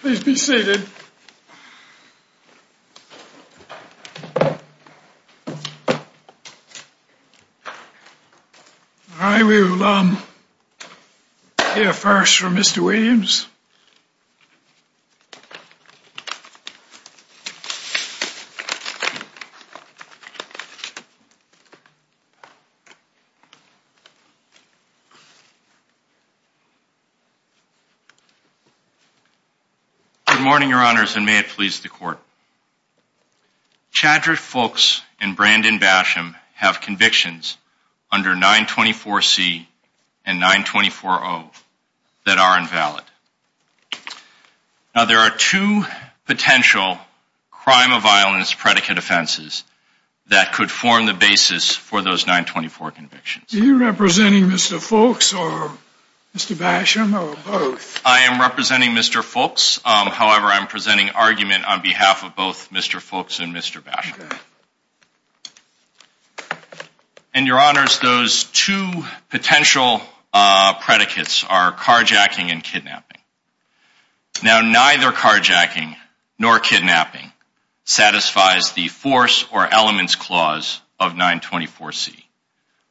Please be seated. I will, um, hear first from Mr. Williams. Good morning, your honors, and may it please the court. Chadrick Fulks and Brandon Basham have convictions under 924C and 924O that are invalid. Now, there are two potential crime of violence predicate offenses that could form the basis for those 924 convictions. Are you representing Mr. Fulks or Mr. Basham or both? I am representing Mr. Fulks. However, I'm presenting argument on behalf of both Mr. Fulks and Mr. Basham. And your honors, those two potential predicates are carjacking and kidnapping. Now, neither carjacking nor kidnapping satisfies the force or elements clause of 924C.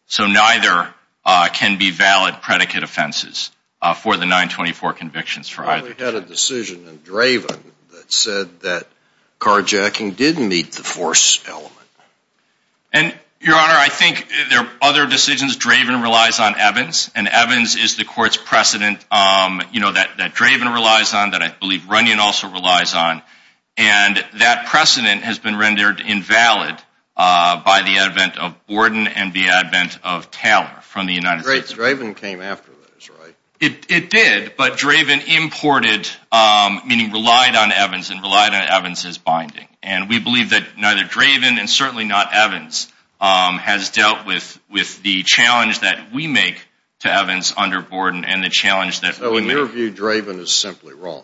So neither can be valid predicate offenses for the 924 convictions for either. We had a decision in Draven that said that carjacking didn't meet the force element. And, your honor, I think there are other decisions. Draven relies on Evans, and Evans is the court's precedent that Draven relies on, that I believe Runyon also relies on. And that precedent has been rendered invalid by the advent of Borden and the advent of Taylor from the United States. Wait, Draven came after this, right? It did, but Draven imported, meaning relied on Evans and relied on Evans' binding. And we believe that neither Draven and certainly not Evans has dealt with the challenge that we make to Evans under Borden and the challenge that we make... So, in your view, Draven is simply wrong?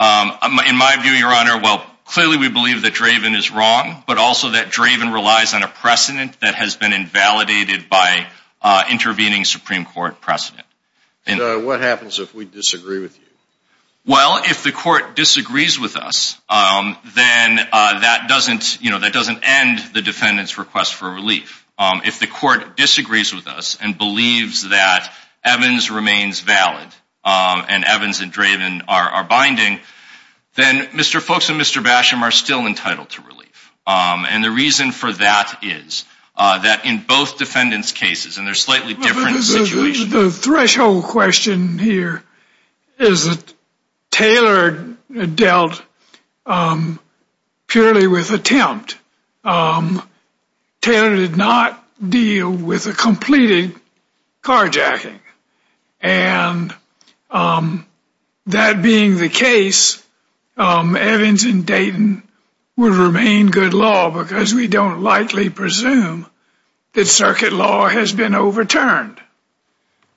In my view, your honor, well, clearly we believe that Draven is wrong, but also that Draven relies on a precedent that has been invalidated by intervening Supreme Court precedent. What happens if we disagree with you? Well, if the court disagrees with us, then that doesn't end the defendant's request for relief. If the court disagrees with us and believes that Evans remains valid and Evans and Draven are binding, then Mr. Folks and Mr. Basham are still entitled to relief. And the reason for that is that in both defendants' cases, and they're slightly different situations... The threshold question here is that Taylor dealt purely with attempt. Taylor did not deal with a completed carjacking. And that being the case, Evans and Dayton would remain good law because we don't likely presume that circuit law has been overturned.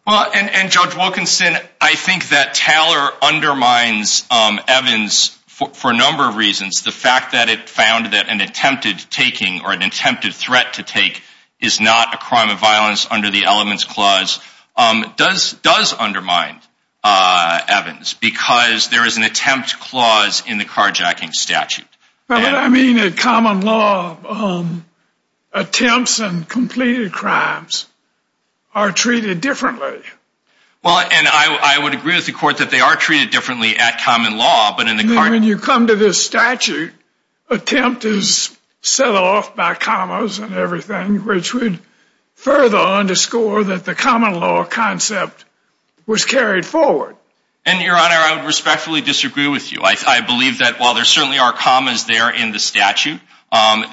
Well, and Judge Wilkinson, I think that Taylor undermines Evans for a number of reasons. The fact that it found that an attempted taking or an attempted threat to take is not a crime of violence under the elements clause does undermine Evans because there is an attempt clause in the carjacking statute. And I mean that common law attempts and completed crimes are treated differently. Well, and I would agree with the court that they are treated differently at common law, but in the carjacking statute... When you come to this statute, attempt is set off by commas and everything, which would further underscore that the common law concept was carried forward. And, Your Honor, I would respectfully disagree with you. I believe that while there certainly are commas there in the statute,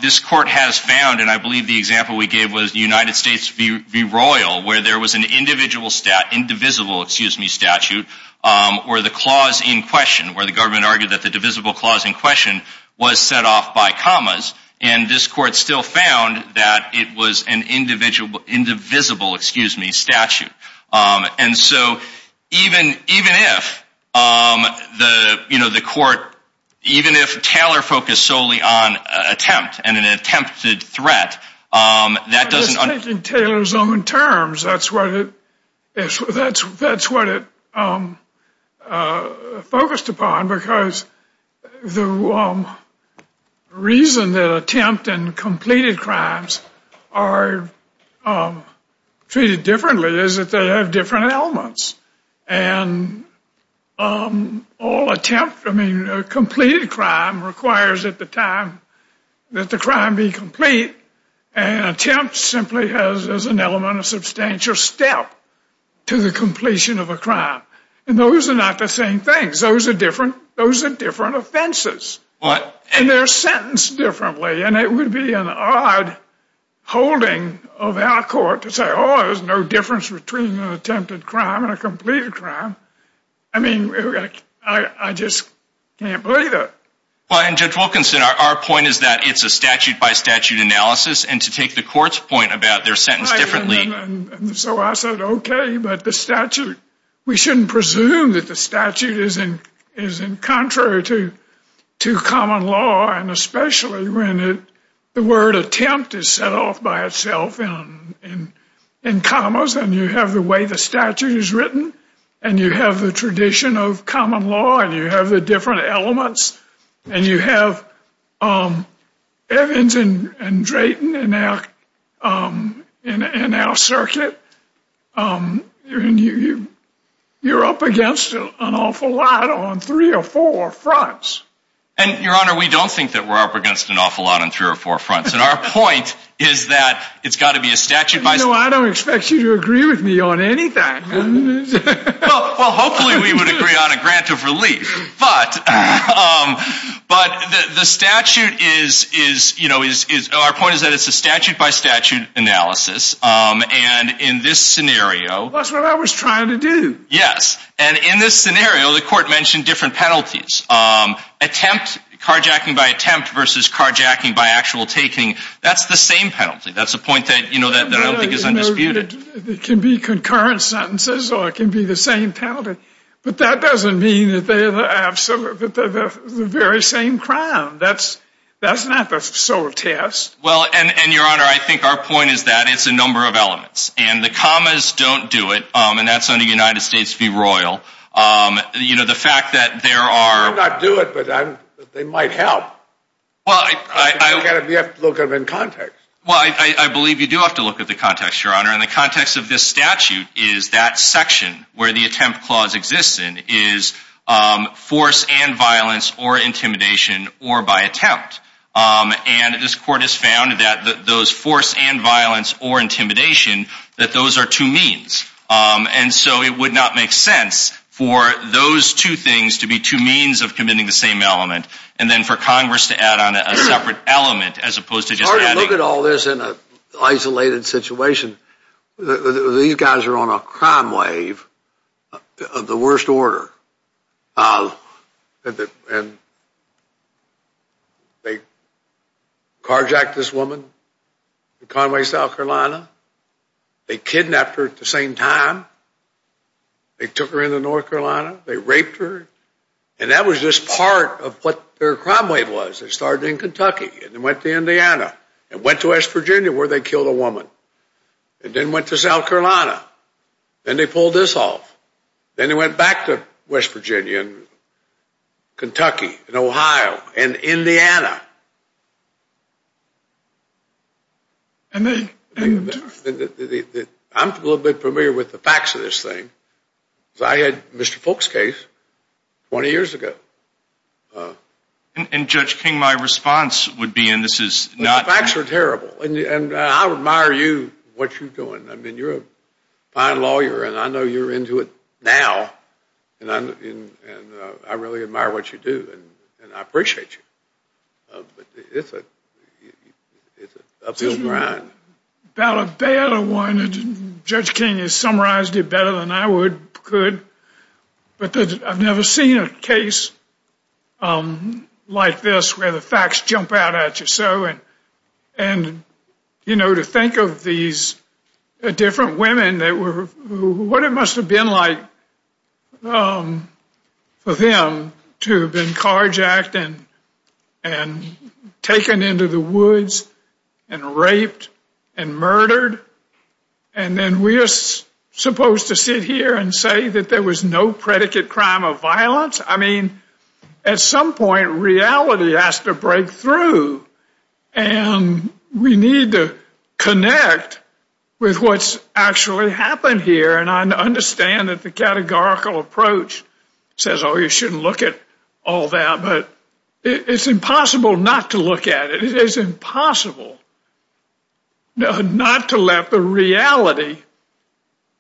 this court has found... And I believe the example we gave was United States v. Royal where there was an indivisible statute where the clause in question... Where the government argued that the divisible clause in question was set off by commas. And this court still found that it was an indivisible statute. And so even if the court... Even if Taylor focused solely on attempt and an attempted threat, that doesn't... And all attempt... I mean, a completed crime requires at the time that the crime be complete. And attempt simply has as an element a substantial step to the completion of a crime. And those are not the same things. Those are different. Those are different offenses. And they're sentenced differently. And it would be an odd holding of our court to say, oh, there's no difference between an attempted crime and a completed crime. I mean, I just can't believe it. Well, and Judge Wilkinson, our point is that it's a statute-by-statute analysis. And to take the court's point about their sentence differently... And so I said, okay, but the statute... We shouldn't presume that the statute is in contrary to common law. And especially when the word attempt is set off by itself in commas. And you have the way the statute is written. And you have the tradition of common law. And you have the different elements. And you have Evans and Drayton in our circuit. And you're up against an awful lot on three or four fronts. And, Your Honor, we don't think that we're up against an awful lot on three or four fronts. And our point is that it's got to be a statute by... No, I don't expect you to agree with me on anything. Well, hopefully we would agree on a grant of relief. But the statute is... Our point is that it's a statute-by-statute analysis. And in this scenario... That's what I was trying to do. Yes. And in this scenario, the court mentioned different penalties. Attempt, carjacking by attempt versus carjacking by actual taking. That's the same penalty. That's the point that I don't think is undisputed. It can be concurrent sentences or it can be the same penalty. But that doesn't mean that they're the very same crime. That's not the sole test. Well, and, Your Honor, I think our point is that it's a number of elements. And the commas don't do it. And that's under United States v. Royal. You know, the fact that there are... They might not do it, but they might help. You have to look at it in context. Well, I believe you do have to look at the context, Your Honor. And the context of this statute is that section where the attempt clause exists in is force and violence or intimidation or by attempt. And this court has found that those force and violence or intimidation, that those are two means. And so it would not make sense for those two things to be two means of committing the same element and then for Congress to add on a separate element as opposed to just adding... Look at all this in an isolated situation. These guys are on a crime wave of the worst order. And they carjacked this woman to Conway, South Carolina. They kidnapped her at the same time. They took her into North Carolina. They raped her. And that was just part of what their crime wave was. It started in Kentucky and then went to Indiana and went to West Virginia where they killed a woman and then went to South Carolina. Then they pulled this off. Then they went back to West Virginia and Kentucky and Ohio and Indiana. I'm a little bit familiar with the facts of this thing. I had Mr. Folk's case 20 years ago. And Judge King, my response would be, and this is not... The facts are terrible. And I admire you, what you're doing. I mean, you're a fine lawyer and I know you're into it now. And I really admire what you do. And I appreciate you. But it's an uphill grind. About a better one. Judge King has summarized it better than I could. But I've never seen a case like this where the facts jump out at you. And, you know, to think of these different women that were... What it must have been like for them to have been carjacked and taken into the woods and raped and murdered. And then we're supposed to sit here and say that there was no predicate crime of violence? I mean, at some point, reality has to break through. And we need to connect with what's actually happened here. And I understand that the categorical approach says, oh, you shouldn't look at all that. But it's impossible not to look at it. It is impossible not to let the reality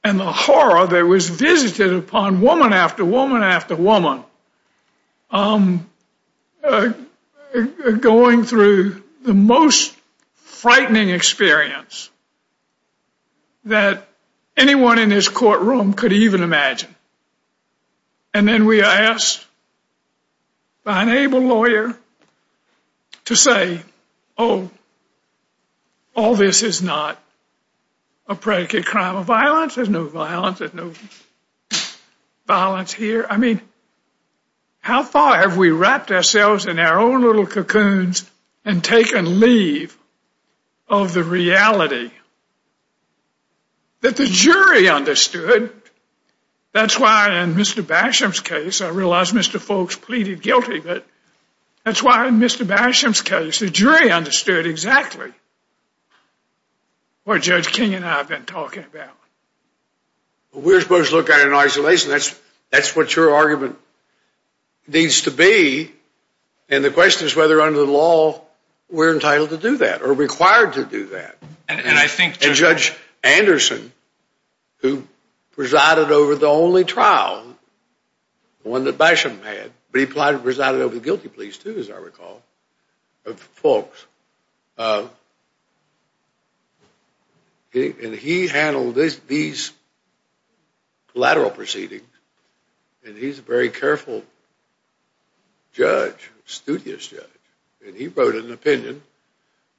and the horror that was visited upon woman after woman after woman going through the most frightening experience that anyone in this courtroom could even imagine. And then we are asked by an able lawyer to say, oh, all this is not a predicate crime of violence. There's no violence. There's no violence here. I mean, how far have we wrapped ourselves in our own little cocoons and taken leave of the reality that the jury understood? That's why in Mr. Basham's case, I realize Mr. Folks pleaded guilty, but that's why in Mr. Basham's case, the jury understood exactly what Judge King and I have been talking about. We're supposed to look at it in isolation. That's what your argument needs to be. And the question is whether under the law we're entitled to do that or required to do that. And I think Judge Anderson, who presided over the only trial, the one that Basham had, but he presided over the guilty pleas too, as I recall, of Folks. And he handled these collateral proceedings, and he's a very careful judge, studious judge. And he wrote an opinion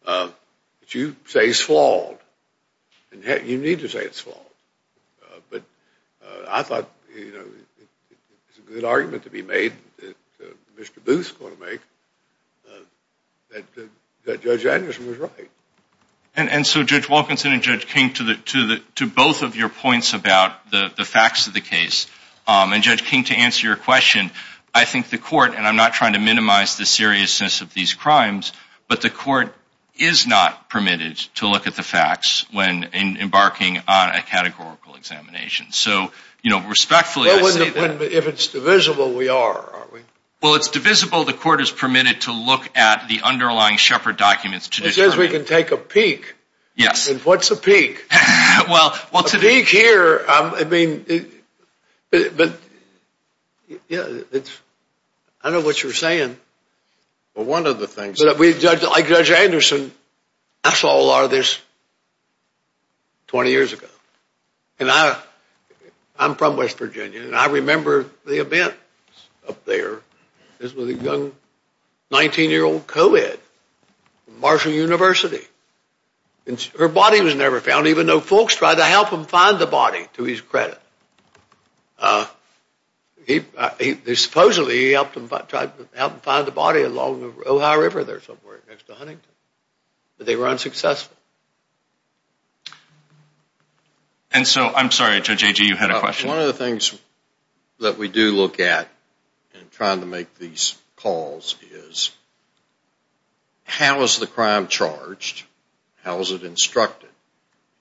that you say is flawed. And you need to say it's flawed. But I thought it's a good argument to be made that Mr. Booth is going to make that Judge Anderson was right. And so Judge Wilkinson and Judge King, to both of your points about the facts of the case, and Judge King, to answer your question, I think the court, and I'm not trying to minimize the seriousness of these crimes, but the court is not permitted to look at the facts when embarking on a categorical examination. So, you know, respectfully, I say that. Well, if it's divisible, we are, aren't we? Well, it's divisible. The court is permitted to look at the underlying Shepard documents to determine. It says we can take a peek. Yes. And what's a peek? A peek here, I mean, but, yeah, I know what you're saying. Well, one of the things that we, like Judge Anderson, I saw a lot of this 20 years ago. And I'm from West Virginia, and I remember the event up there. This was a young 19-year-old co-ed from Marshall University. And her body was never found, even though folks tried to help him find the body, to his credit. Supposedly, he helped him find the body along the Ohio River there somewhere next to Huntington, but they were unsuccessful. And so, I'm sorry, Judge Agee, you had a question. One of the things that we do look at in trying to make these calls is how is the crime charged? How is it instructed?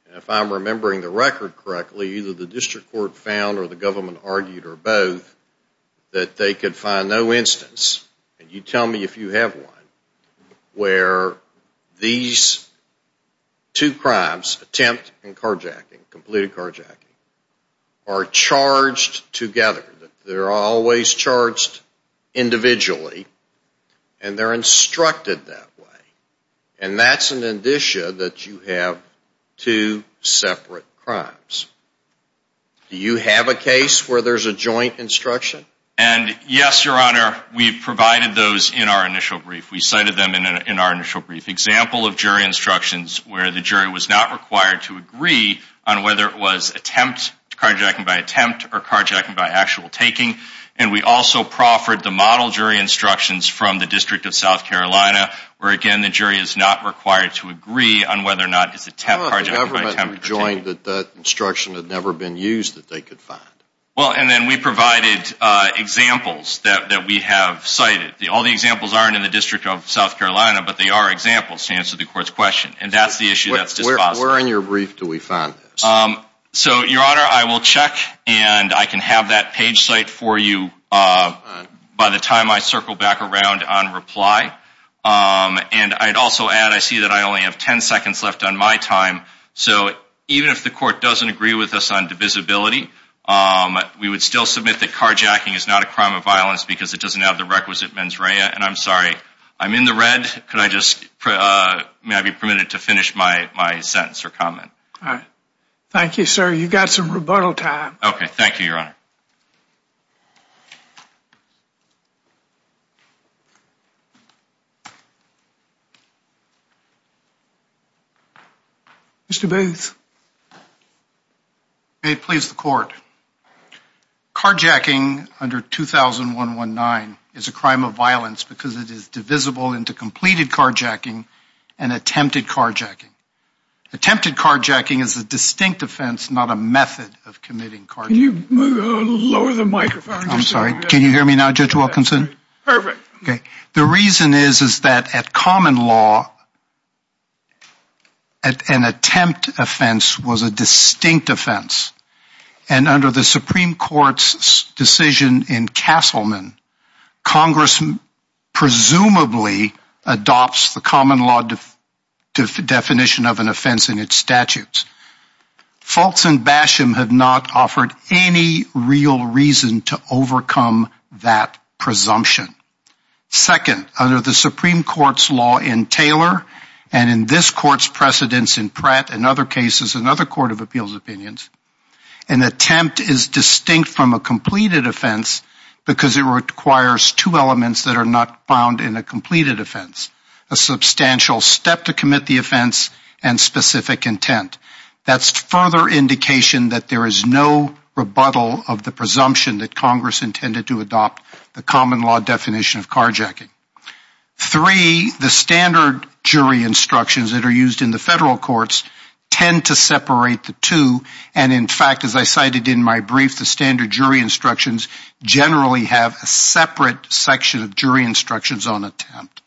And if I'm remembering the record correctly, either the district court found or the government argued or both that they could find no instance, and you tell me if you have one, where these two crimes, attempt and carjacking, completed carjacking, are charged together. They're always charged individually, and they're instructed that way. And that's an indicia that you have two separate crimes. Do you have a case where there's a joint instruction? And yes, Your Honor, we provided those in our initial brief. We cited them in our initial brief. Example of jury instructions where the jury was not required to agree on whether it was attempt, carjacking by attempt, or carjacking by actual taking. And we also proffered the model jury instructions from the District of South Carolina, where, again, the jury is not required to agree on whether or not it's attempt, carjacking by attempt. How about the government rejoined that that instruction had never been used that they could find? Well, and then we provided examples that we have cited. All the examples aren't in the District of South Carolina, but they are examples to answer the court's question. And that's the issue that's dispositive. Where in your brief do we find this? So, Your Honor, I will check, and I can have that page cite for you by the time I circle back around on reply. And I'd also add, I see that I only have 10 seconds left on my time. So, even if the court doesn't agree with us on divisibility, we would still submit that carjacking is not a crime of violence because it doesn't have the requisite mens rea. And I'm sorry, I'm in the red. Could I just, may I be permitted to finish my sentence or comment? All right. Thank you, sir. You've got some rebuttal time. Okay, thank you, Your Honor. Mr. Booth. May it please the court. Carjacking under 2001-19 is a crime of violence because it is divisible into completed carjacking and attempted carjacking. Attempted carjacking is a distinct offense, not a method of committing carjacking. Can you lower the microphone? I'm sorry. Can you hear me now, Judge Wilkinson? Perfect. The reason is that at common law, an attempt offense was a distinct offense. And under the Supreme Court's decision in Castleman, Congress presumably adopts the common law definition of an offense in its statutes. Fultz and Basham have not offered any real reason to overcome that presumption. Second, under the Supreme Court's law in Taylor and in this court's precedence in Pratt and other cases, another court of appeals opinions, an attempt is distinct from a completed offense because it requires two elements that are not found in a completed offense, a substantial step to commit the offense and specific intent. That's further indication that there is no rebuttal of the presumption that Congress intended to adopt the common law definition of carjacking. Three, the standard jury instructions that are used in the federal courts tend to separate the two. And in fact, as I cited in my brief, the standard jury instructions generally have a separate section of jury instructions on attempt.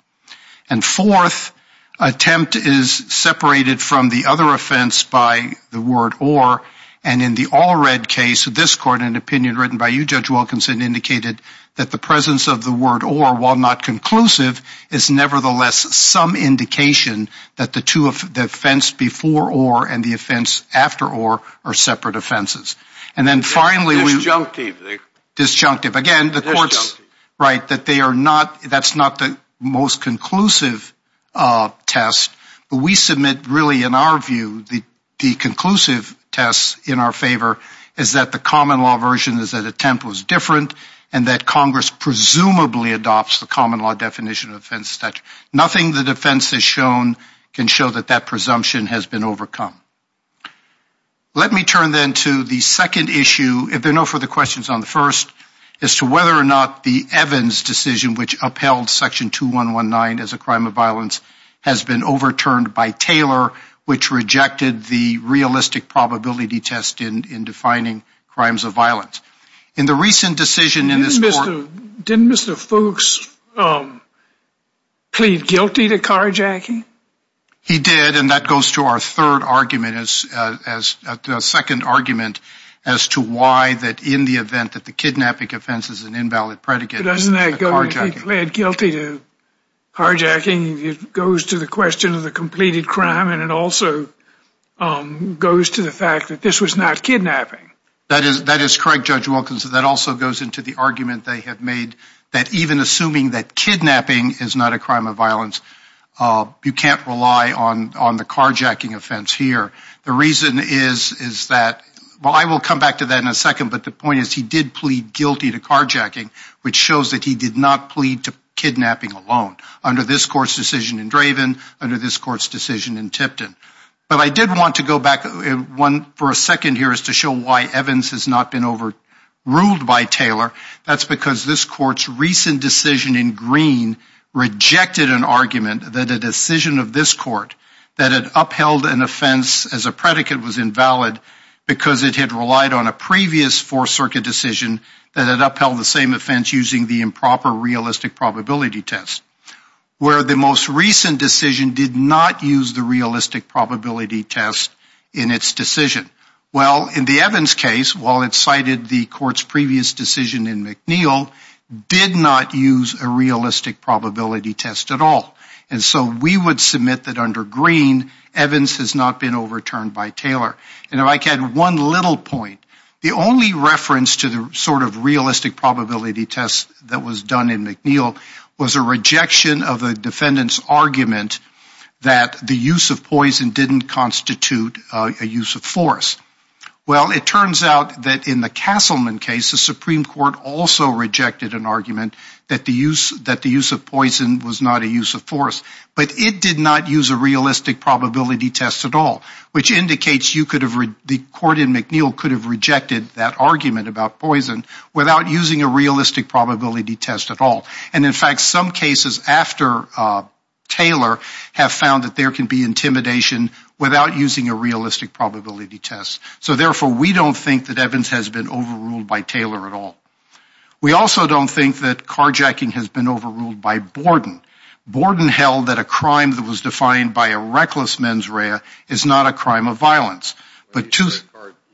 And fourth, attempt is separated from the other offense by the word or. And in the all read case of this court, an opinion written by you, Judge Wilkinson, indicated that the presence of the word or, while not conclusive, is nevertheless some indication that the two of the offense before or and the offense after or are separate offenses. And then finally, disjunctive. Again, the courts write that they are not that's not the most conclusive test. But we submit really in our view, the conclusive test in our favor is that the common law version is that attempt was different and that Congress presumably adopts the common law definition of offense statute. Nothing the defense has shown can show that that presumption has been overcome. Let me turn then to the second issue, if there are no further questions on the first, as to whether or not the Evans decision which upheld section 2119 as a crime of violence has been overturned by Taylor, which rejected the realistic probability test in defining crimes of violence. In the recent decision in this court. Didn't Mr. Fuchs plead guilty to carjacking? He did. And that goes to our third argument as a second argument as to why that in the event that the kidnapping offense is an invalid predicate. Doesn't that go to plead guilty to carjacking? It goes to the question of the completed crime. And it also goes to the fact that this was not kidnapping. That is that is correct. Judge Wilkins, that also goes into the argument they have made that even assuming that kidnapping is not a crime of violence, you can't rely on on the carjacking offense here. The reason is, is that, well, I will come back to that in a second. But the point is he did plead guilty to carjacking, which shows that he did not plead to kidnapping alone under this court's decision in Draven, under this court's decision in Tipton. But I did want to go back one for a second here is to show why Evans has not been overruled by Taylor. That's because this court's recent decision in Green rejected an argument that a decision of this court that had upheld an offense as a predicate was invalid because it had relied on a previous Fourth Circuit decision that had upheld the same offense using the improper realistic probability test, where the most recent decision did not use the realistic probability test in its decision. Well, in the Evans case, while it cited the court's previous decision in McNeil, did not use a realistic probability test at all. And so we would submit that under Green, Evans has not been overturned by Taylor. And if I can add one little point, the only reference to the sort of realistic probability test that was done in McNeil was a rejection of a defendant's argument that the use of poison didn't constitute a use of force. Well, it turns out that in the Castleman case, the Supreme Court also rejected an argument that the use of poison was not a use of force. But it did not use a realistic probability test at all, which indicates the court in McNeil could have rejected that argument about poison without using a realistic probability test at all. And, in fact, some cases after Taylor have found that there can be intimidation without using a realistic probability test. So, therefore, we don't think that Evans has been overruled by Taylor at all. We also don't think that carjacking has been overruled by Borden. Borden held that a crime that was defined by a reckless mens rea is not a crime of violence. When you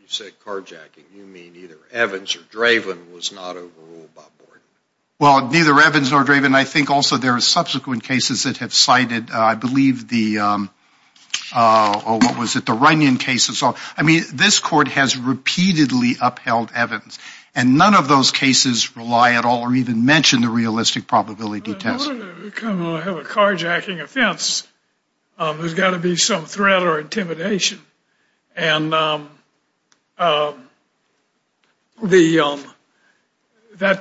say carjacking, you mean either Evans or Draven was not overruled by Borden. Well, neither Evans nor Draven. I think also there are subsequent cases that have cited, I believe, the, what was it, the Runyon case. I mean, this court has repeatedly upheld Evans, and none of those cases rely at all or even mention the realistic probability test. If you're going to have a carjacking offense, there's got to be some threat or intimidation. And that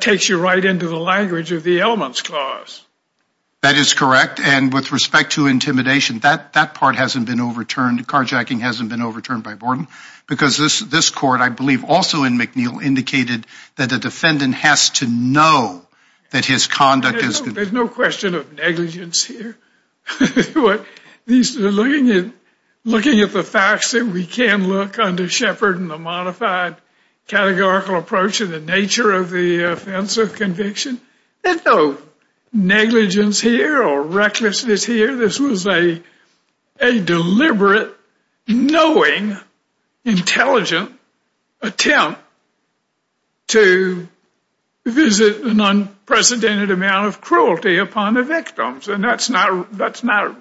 takes you right into the language of the elements clause. That is correct, and with respect to intimidation, that part hasn't been overturned. Carjacking hasn't been overturned by Borden because this court, I believe, also in McNeil indicated that the defendant has to know that his conduct is there's no question of negligence here. Looking at the facts that we can look under Shepard and the modified categorical approach and the nature of the offense of conviction, there's no negligence here or recklessness here. I think this was a deliberate, knowing, intelligent attempt to visit an unprecedented amount of cruelty upon the victims, and that's not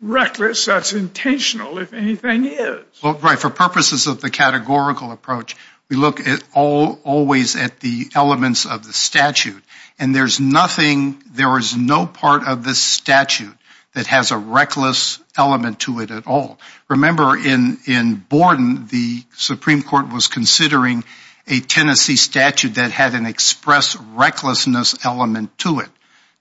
reckless. That's intentional, if anything is. Right. For purposes of the categorical approach, we look always at the elements of the statute, and there's nothing, there is no part of the statute that has a reckless element to it at all. Remember, in Borden, the Supreme Court was considering a Tennessee statute that had an express recklessness element to it.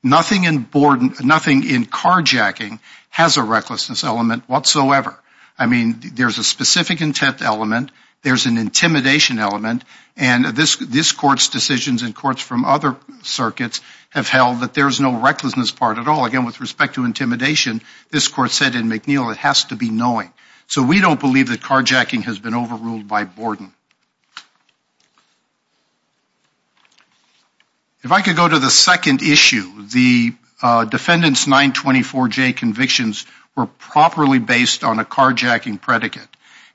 Nothing in Borden, nothing in carjacking has a recklessness element whatsoever. I mean, there's a specific intent element. There's an intimidation element. And this court's decisions and courts from other circuits have held that there's no recklessness part at all. Again, with respect to intimidation, this court said in McNeil it has to be knowing. So we don't believe that carjacking has been overruled by Borden. If I could go to the second issue, the defendant's 924J convictions were properly based on a carjacking predicate.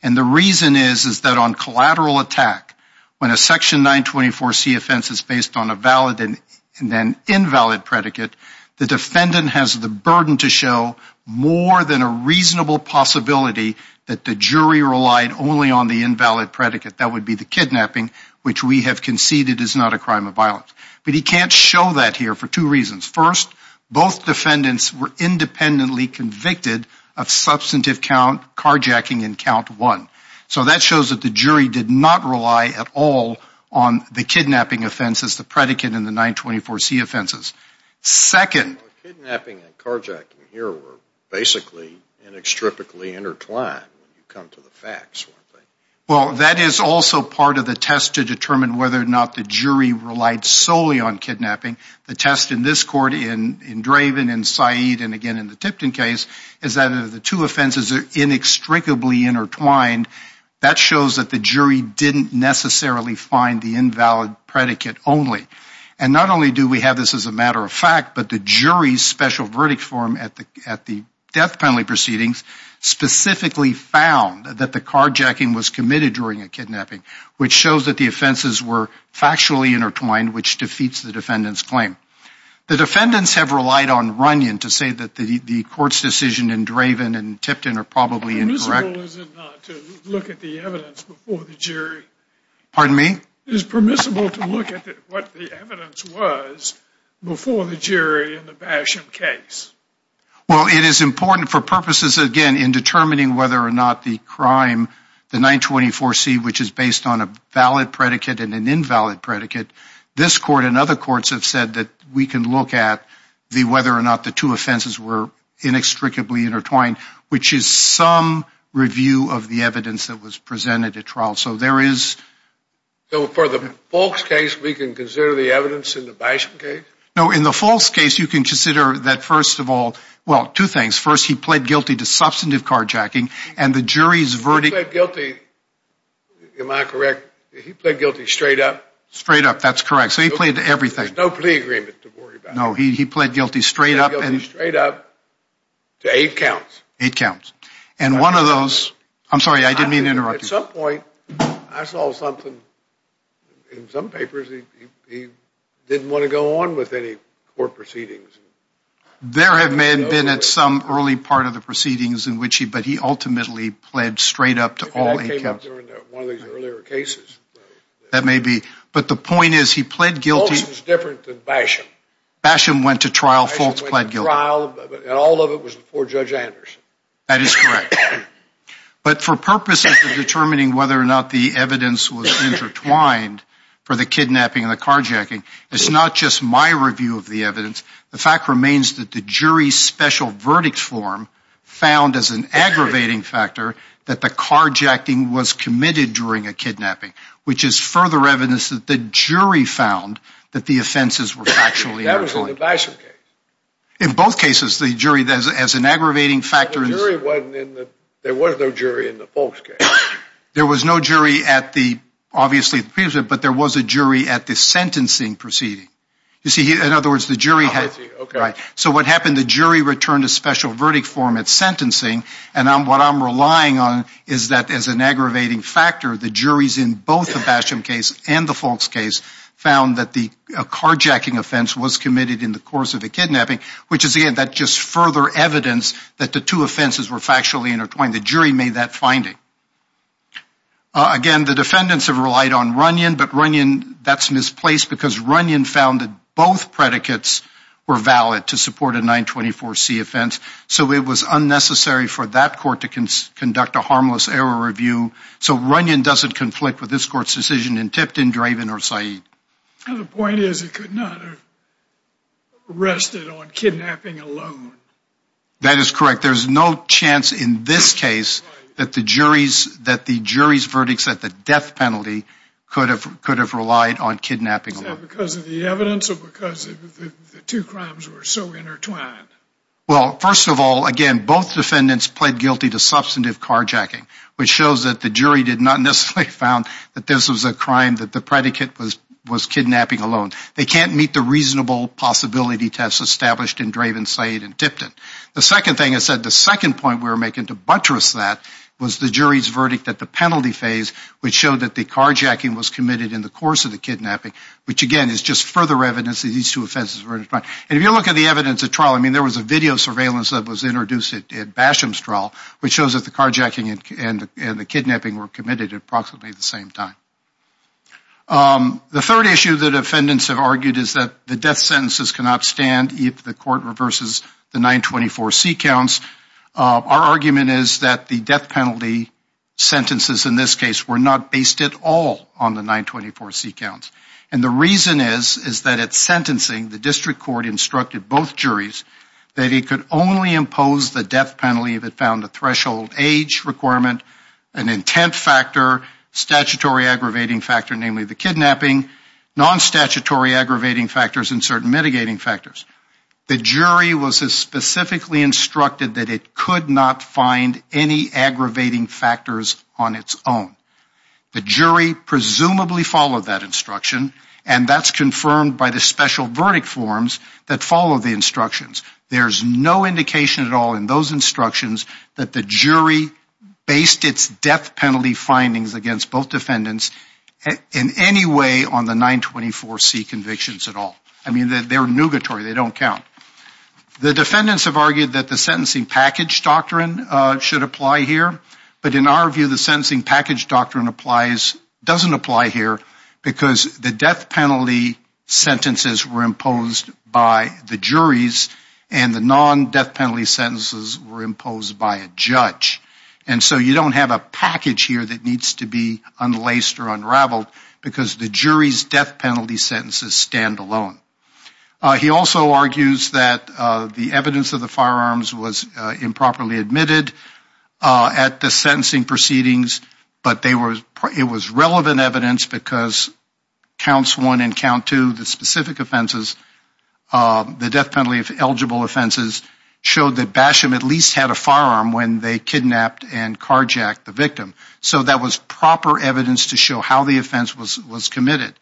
And the reason is is that on collateral attack, when a section 924C offense is based on a valid and then invalid predicate, the defendant has the burden to show more than a reasonable possibility that the jury relied only on the invalid predicate. That would be the kidnapping, which we have conceded is not a crime of violence. But he can't show that here for two reasons. First, both defendants were independently convicted of substantive count carjacking in count one. So that shows that the jury did not rely at all on the kidnapping offenses, the predicate, and the 924C offenses. Second. Kidnapping and carjacking here were basically inextricably intertwined when you come to the facts, weren't they? Well, that is also part of the test to determine whether or not the jury relied solely on kidnapping. The test in this court, in Draven, in Said, and again in the Tipton case, is that if the two offenses are inextricably intertwined, that shows that the jury didn't necessarily find the invalid predicate only. And not only do we have this as a matter of fact, but the jury's special verdict form at the death penalty proceedings specifically found that the carjacking was committed during a kidnapping, which shows that the offenses were factually intertwined, which defeats the defendant's claim. The defendants have relied on Runyon to say that the court's decision in Draven and Tipton are probably incorrect. Is it permissible to look at the evidence before the jury? Pardon me? Is it permissible to look at what the evidence was before the jury in the Basham case? Well, it is important for purposes, again, in determining whether or not the crime, the 924C, which is based on a valid predicate and an invalid predicate, this court and other courts have said that we can look at whether or not the two offenses were inextricably intertwined, which is some review of the evidence that was presented at trial. So there is... So for the false case, we can consider the evidence in the Basham case? No, in the false case, you can consider that, first of all, well, two things. First, he pled guilty to substantive carjacking and the jury's verdict... He pled guilty, am I correct? He pled guilty straight up? Straight up, that's correct. So he pled to everything. There's no plea agreement to worry about. No, he pled guilty straight up and... He pled guilty straight up to eight counts. Eight counts. And one of those... I'm sorry, I didn't mean to interrupt you. At some point, I saw something in some papers, he didn't want to go on with any court proceedings. There have been at some early part of the proceedings in which he... But he ultimately pled straight up to all eight counts. That came up during one of these earlier cases. That may be, but the point is he pled guilty... False was different than Basham. Basham went to trial, false pled guilty. Basham went to trial, and all of it was before Judge Anderson. That is correct. But for purposes of determining whether or not the evidence was intertwined for the kidnapping and the carjacking, it's not just my review of the evidence. The fact remains that the jury's special verdict form found as an aggravating factor that the carjacking was committed during a kidnapping, which is further evidence that the jury found that the offenses were factually inclined. That was in the Basham case. In both cases, the jury, as an aggravating factor... The jury wasn't in the... There was no jury in the False case. There was no jury at the... Obviously, but there was a jury at the sentencing proceeding. You see, in other words, the jury had... So what happened, the jury returned a special verdict form at sentencing, and what I'm relying on is that as an aggravating factor, the juries in both the Basham case and the False case found that the carjacking offense was committed in the course of the kidnapping, which is, again, that just further evidence that the two offenses were factually intertwined. The jury made that finding. Again, the defendants have relied on Runyon, but Runyon, that's misplaced because Runyon found that both predicates were valid to support a 924C offense, so it was unnecessary for that court to conduct a harmless error review, so Runyon doesn't conflict with this court's decision in Tipton, Draven, or Said. The point is it could not have rested on kidnapping alone. That is correct. There's no chance in this case that the jury's verdicts at the death penalty could have relied on kidnapping alone. Is that because of the evidence or because the two crimes were so intertwined? Well, first of all, again, both defendants pled guilty to substantive carjacking, which shows that the jury did not necessarily found that this was a crime that the predicate was kidnapping alone. They can't meet the reasonable possibility test established in Draven, Said, and Tipton. The second thing I said, the second point we were making to buttress that was the jury's verdict at the penalty phase, which showed that the carjacking was committed in the course of the kidnapping, which, again, is just further evidence that these two offenses were intertwined. And if you look at the evidence at trial, I mean there was a video surveillance that was introduced at Basham's trial, which shows that the carjacking and the kidnapping were committed at approximately the same time. The third issue that defendants have argued is that the death sentences cannot stand if the court reverses the 924C counts. Our argument is that the death penalty sentences in this case were not based at all on the 924C counts. And the reason is that at sentencing, the district court instructed both juries that it could only impose the death penalty if it found a threshold age requirement, an intent factor, statutory aggravating factor, namely the kidnapping, non-statutory aggravating factors, and certain mitigating factors. The jury was specifically instructed that it could not find any aggravating factors on its own. The jury presumably followed that instruction, and that's confirmed by the special verdict forms that follow the instructions. There's no indication at all in those instructions that the jury based its death penalty findings against both defendants in any way on the 924C convictions at all. I mean, they're nugatory. They don't count. The defendants have argued that the sentencing package doctrine should apply here, but in our view, the sentencing package doctrine doesn't apply here because the death penalty sentences were imposed by the juries and the non-death penalty sentences were imposed by a judge. And so you don't have a package here that needs to be unlaced or unraveled because the jury's death penalty sentences stand alone. He also argues that the evidence of the firearms was improperly admitted at the sentencing proceedings, but it was relevant evidence because counts one and count two, the specific offenses, the death penalty-eligible offenses showed that Basham at least had a firearm when they kidnapped and carjacked the victim. So that was proper evidence to show how the offense was committed.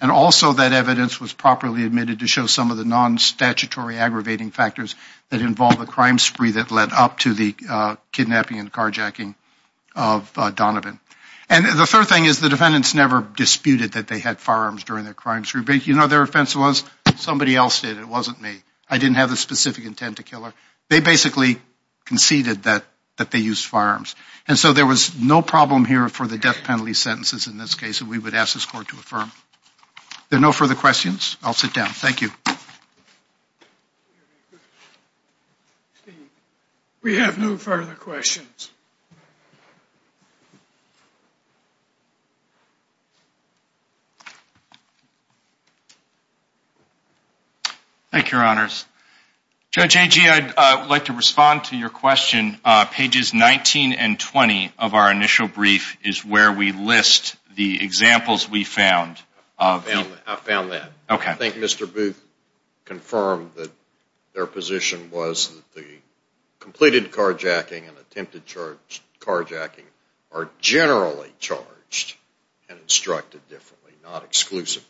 And also that evidence was properly admitted to show some of the non-statutory aggravating factors that involve a crime spree that led up to the kidnapping and carjacking of Donovan. And the third thing is the defendants never disputed that they had firearms during their crime spree. You know what their offense was? Somebody else did. It wasn't me. I didn't have the specific intent to kill her. They basically conceded that they used firearms. And so there was no problem here for the death penalty sentences in this case that we would ask this court to affirm. Are there no further questions? I'll sit down. Thank you. We have no further questions. Thank you, Your Honors. Judge Agee, I'd like to respond to your question. Pages 19 and 20 of our initial brief is where we list the examples we found. I found that. Okay. I think Mr. Booth confirmed that their position was that the completed carjacking and attempted carjacking are generally charged and instructed differently, not exclusively.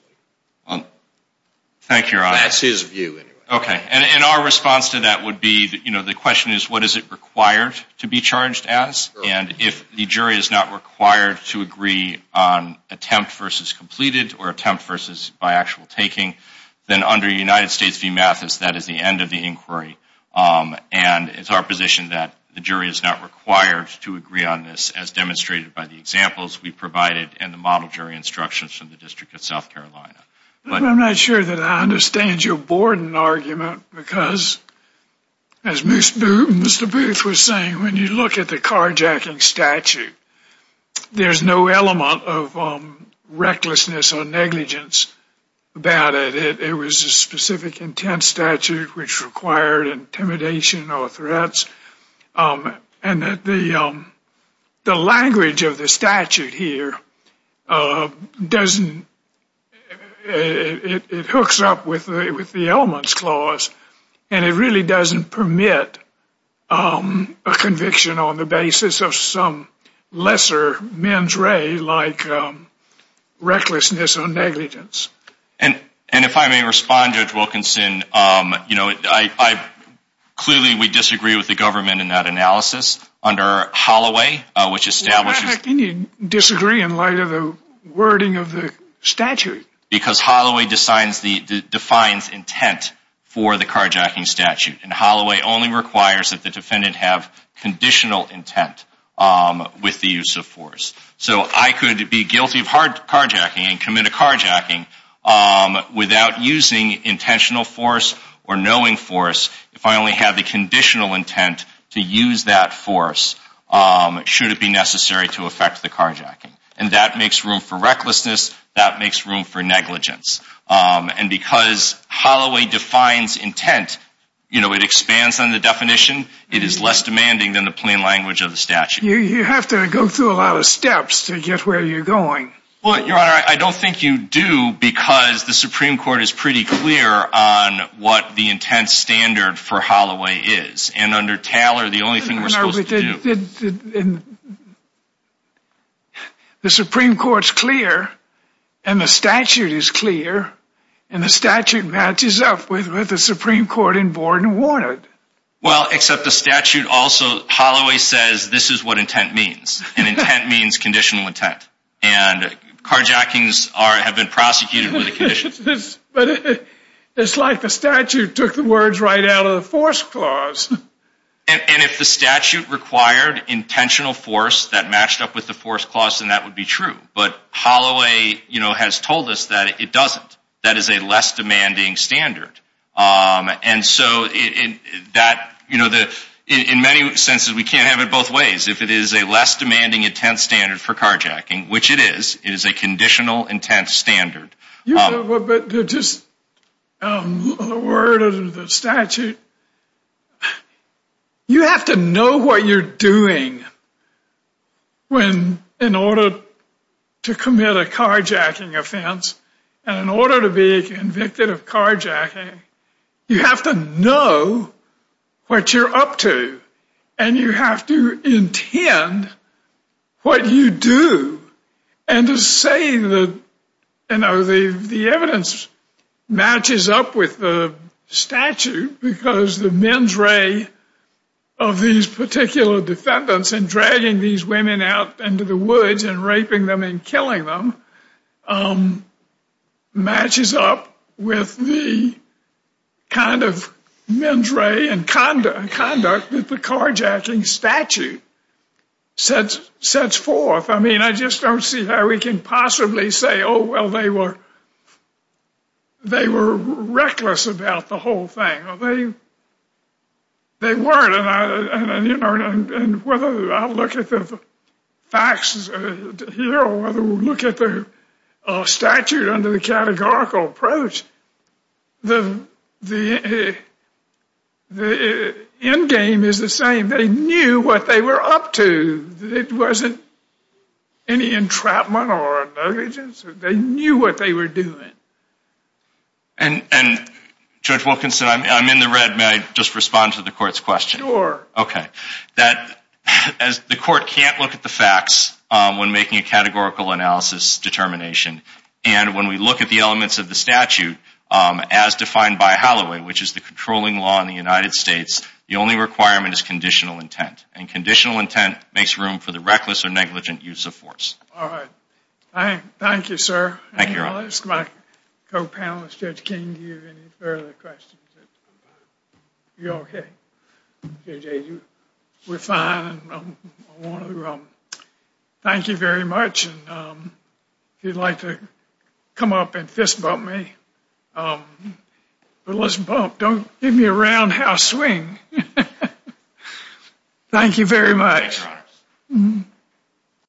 Thank you, Your Honor. That's his view anyway. Okay. And our response to that would be, you know, the question is what is it required to be charged as? And if the jury is not required to agree on attempt versus completed or attempt versus by actual taking, then under United States v. Mathis, that is the end of the inquiry. And it's our position that the jury is not required to agree on this as demonstrated by the examples we provided and the model jury instructions from the District of South Carolina. I'm not sure that I understand your Borden argument, because as Mr. Booth was saying, when you look at the carjacking statute, there's no element of recklessness or negligence about it. It was a specific intent statute which required intimidation or threats. And the language of the statute here doesn't, it hooks up with the elements clause, and it really doesn't permit a conviction on the basis of some lesser mens re like recklessness or negligence. And if I may respond, Judge Wilkinson, you know, clearly we disagree with the government in that analysis under Holloway, which establishes. Why do you disagree in light of the wording of the statute? Because Holloway defines intent for the carjacking statute, and Holloway only requires that the defendant have conditional intent with the use of force. So I could be guilty of hard carjacking and commit a carjacking without using intentional force or knowing force if I only have the conditional intent to use that force should it be necessary to affect the carjacking. And that makes room for recklessness. That makes room for negligence. And because Holloway defines intent, you know, it expands on the definition. It is less demanding than the plain language of the statute. You have to go through a lot of steps to get where you're going. Well, Your Honor, I don't think you do, because the Supreme Court is pretty clear on what the intent standard for Holloway is. And under Taylor, the only thing we're supposed to do. The Supreme Court's clear, and the statute is clear, and the statute matches up with what the Supreme Court in Borden wanted. Well, except the statute also Holloway says this is what intent means. And intent means conditional intent. And carjackings have been prosecuted with a conditional intent. But it's like the statute took the words right out of the force clause. And if the statute required intentional force that matched up with the force clause, then that would be true. But Holloway, you know, has told us that it doesn't. That is a less demanding standard. And so that, you know, in many senses we can't have it both ways. If it is a less demanding intent standard for carjacking, which it is, it is a conditional intent standard. But just a word of the statute. You have to know what you're doing when in order to commit a carjacking offense and in order to be convicted of carjacking, you have to know what you're up to. And you have to intend what you do. And to say that, you know, the evidence matches up with the statute because the mens re of these particular defendants in dragging these women out into the woods and raping them and killing them matches up with the kind of mens re and conduct that the carjacking statute sets forth. I mean, I just don't see how we can possibly say, oh, well, they were reckless about the whole thing. They weren't. And whether I look at the facts here or whether we look at the statute under the categorical approach, the end game is the same. They knew what they were up to. It wasn't any entrapment or negligence. They knew what they were doing. And, Judge Wilkinson, I'm in the red. May I just respond to the court's question? Sure. Okay. The court can't look at the facts when making a categorical analysis determination. And when we look at the elements of the statute, as defined by Holloway, which is the controlling law in the United States, the only requirement is conditional intent. And conditional intent makes room for the reckless or negligent use of force. All right. Thank you, sir. Thank you. I'll ask my co-panelist, Judge King, do you have any further questions? You okay? We're fine. Thank you very much. If you'd like to come up and fist bump me. Don't give me a roundhouse swing. Thank you very much.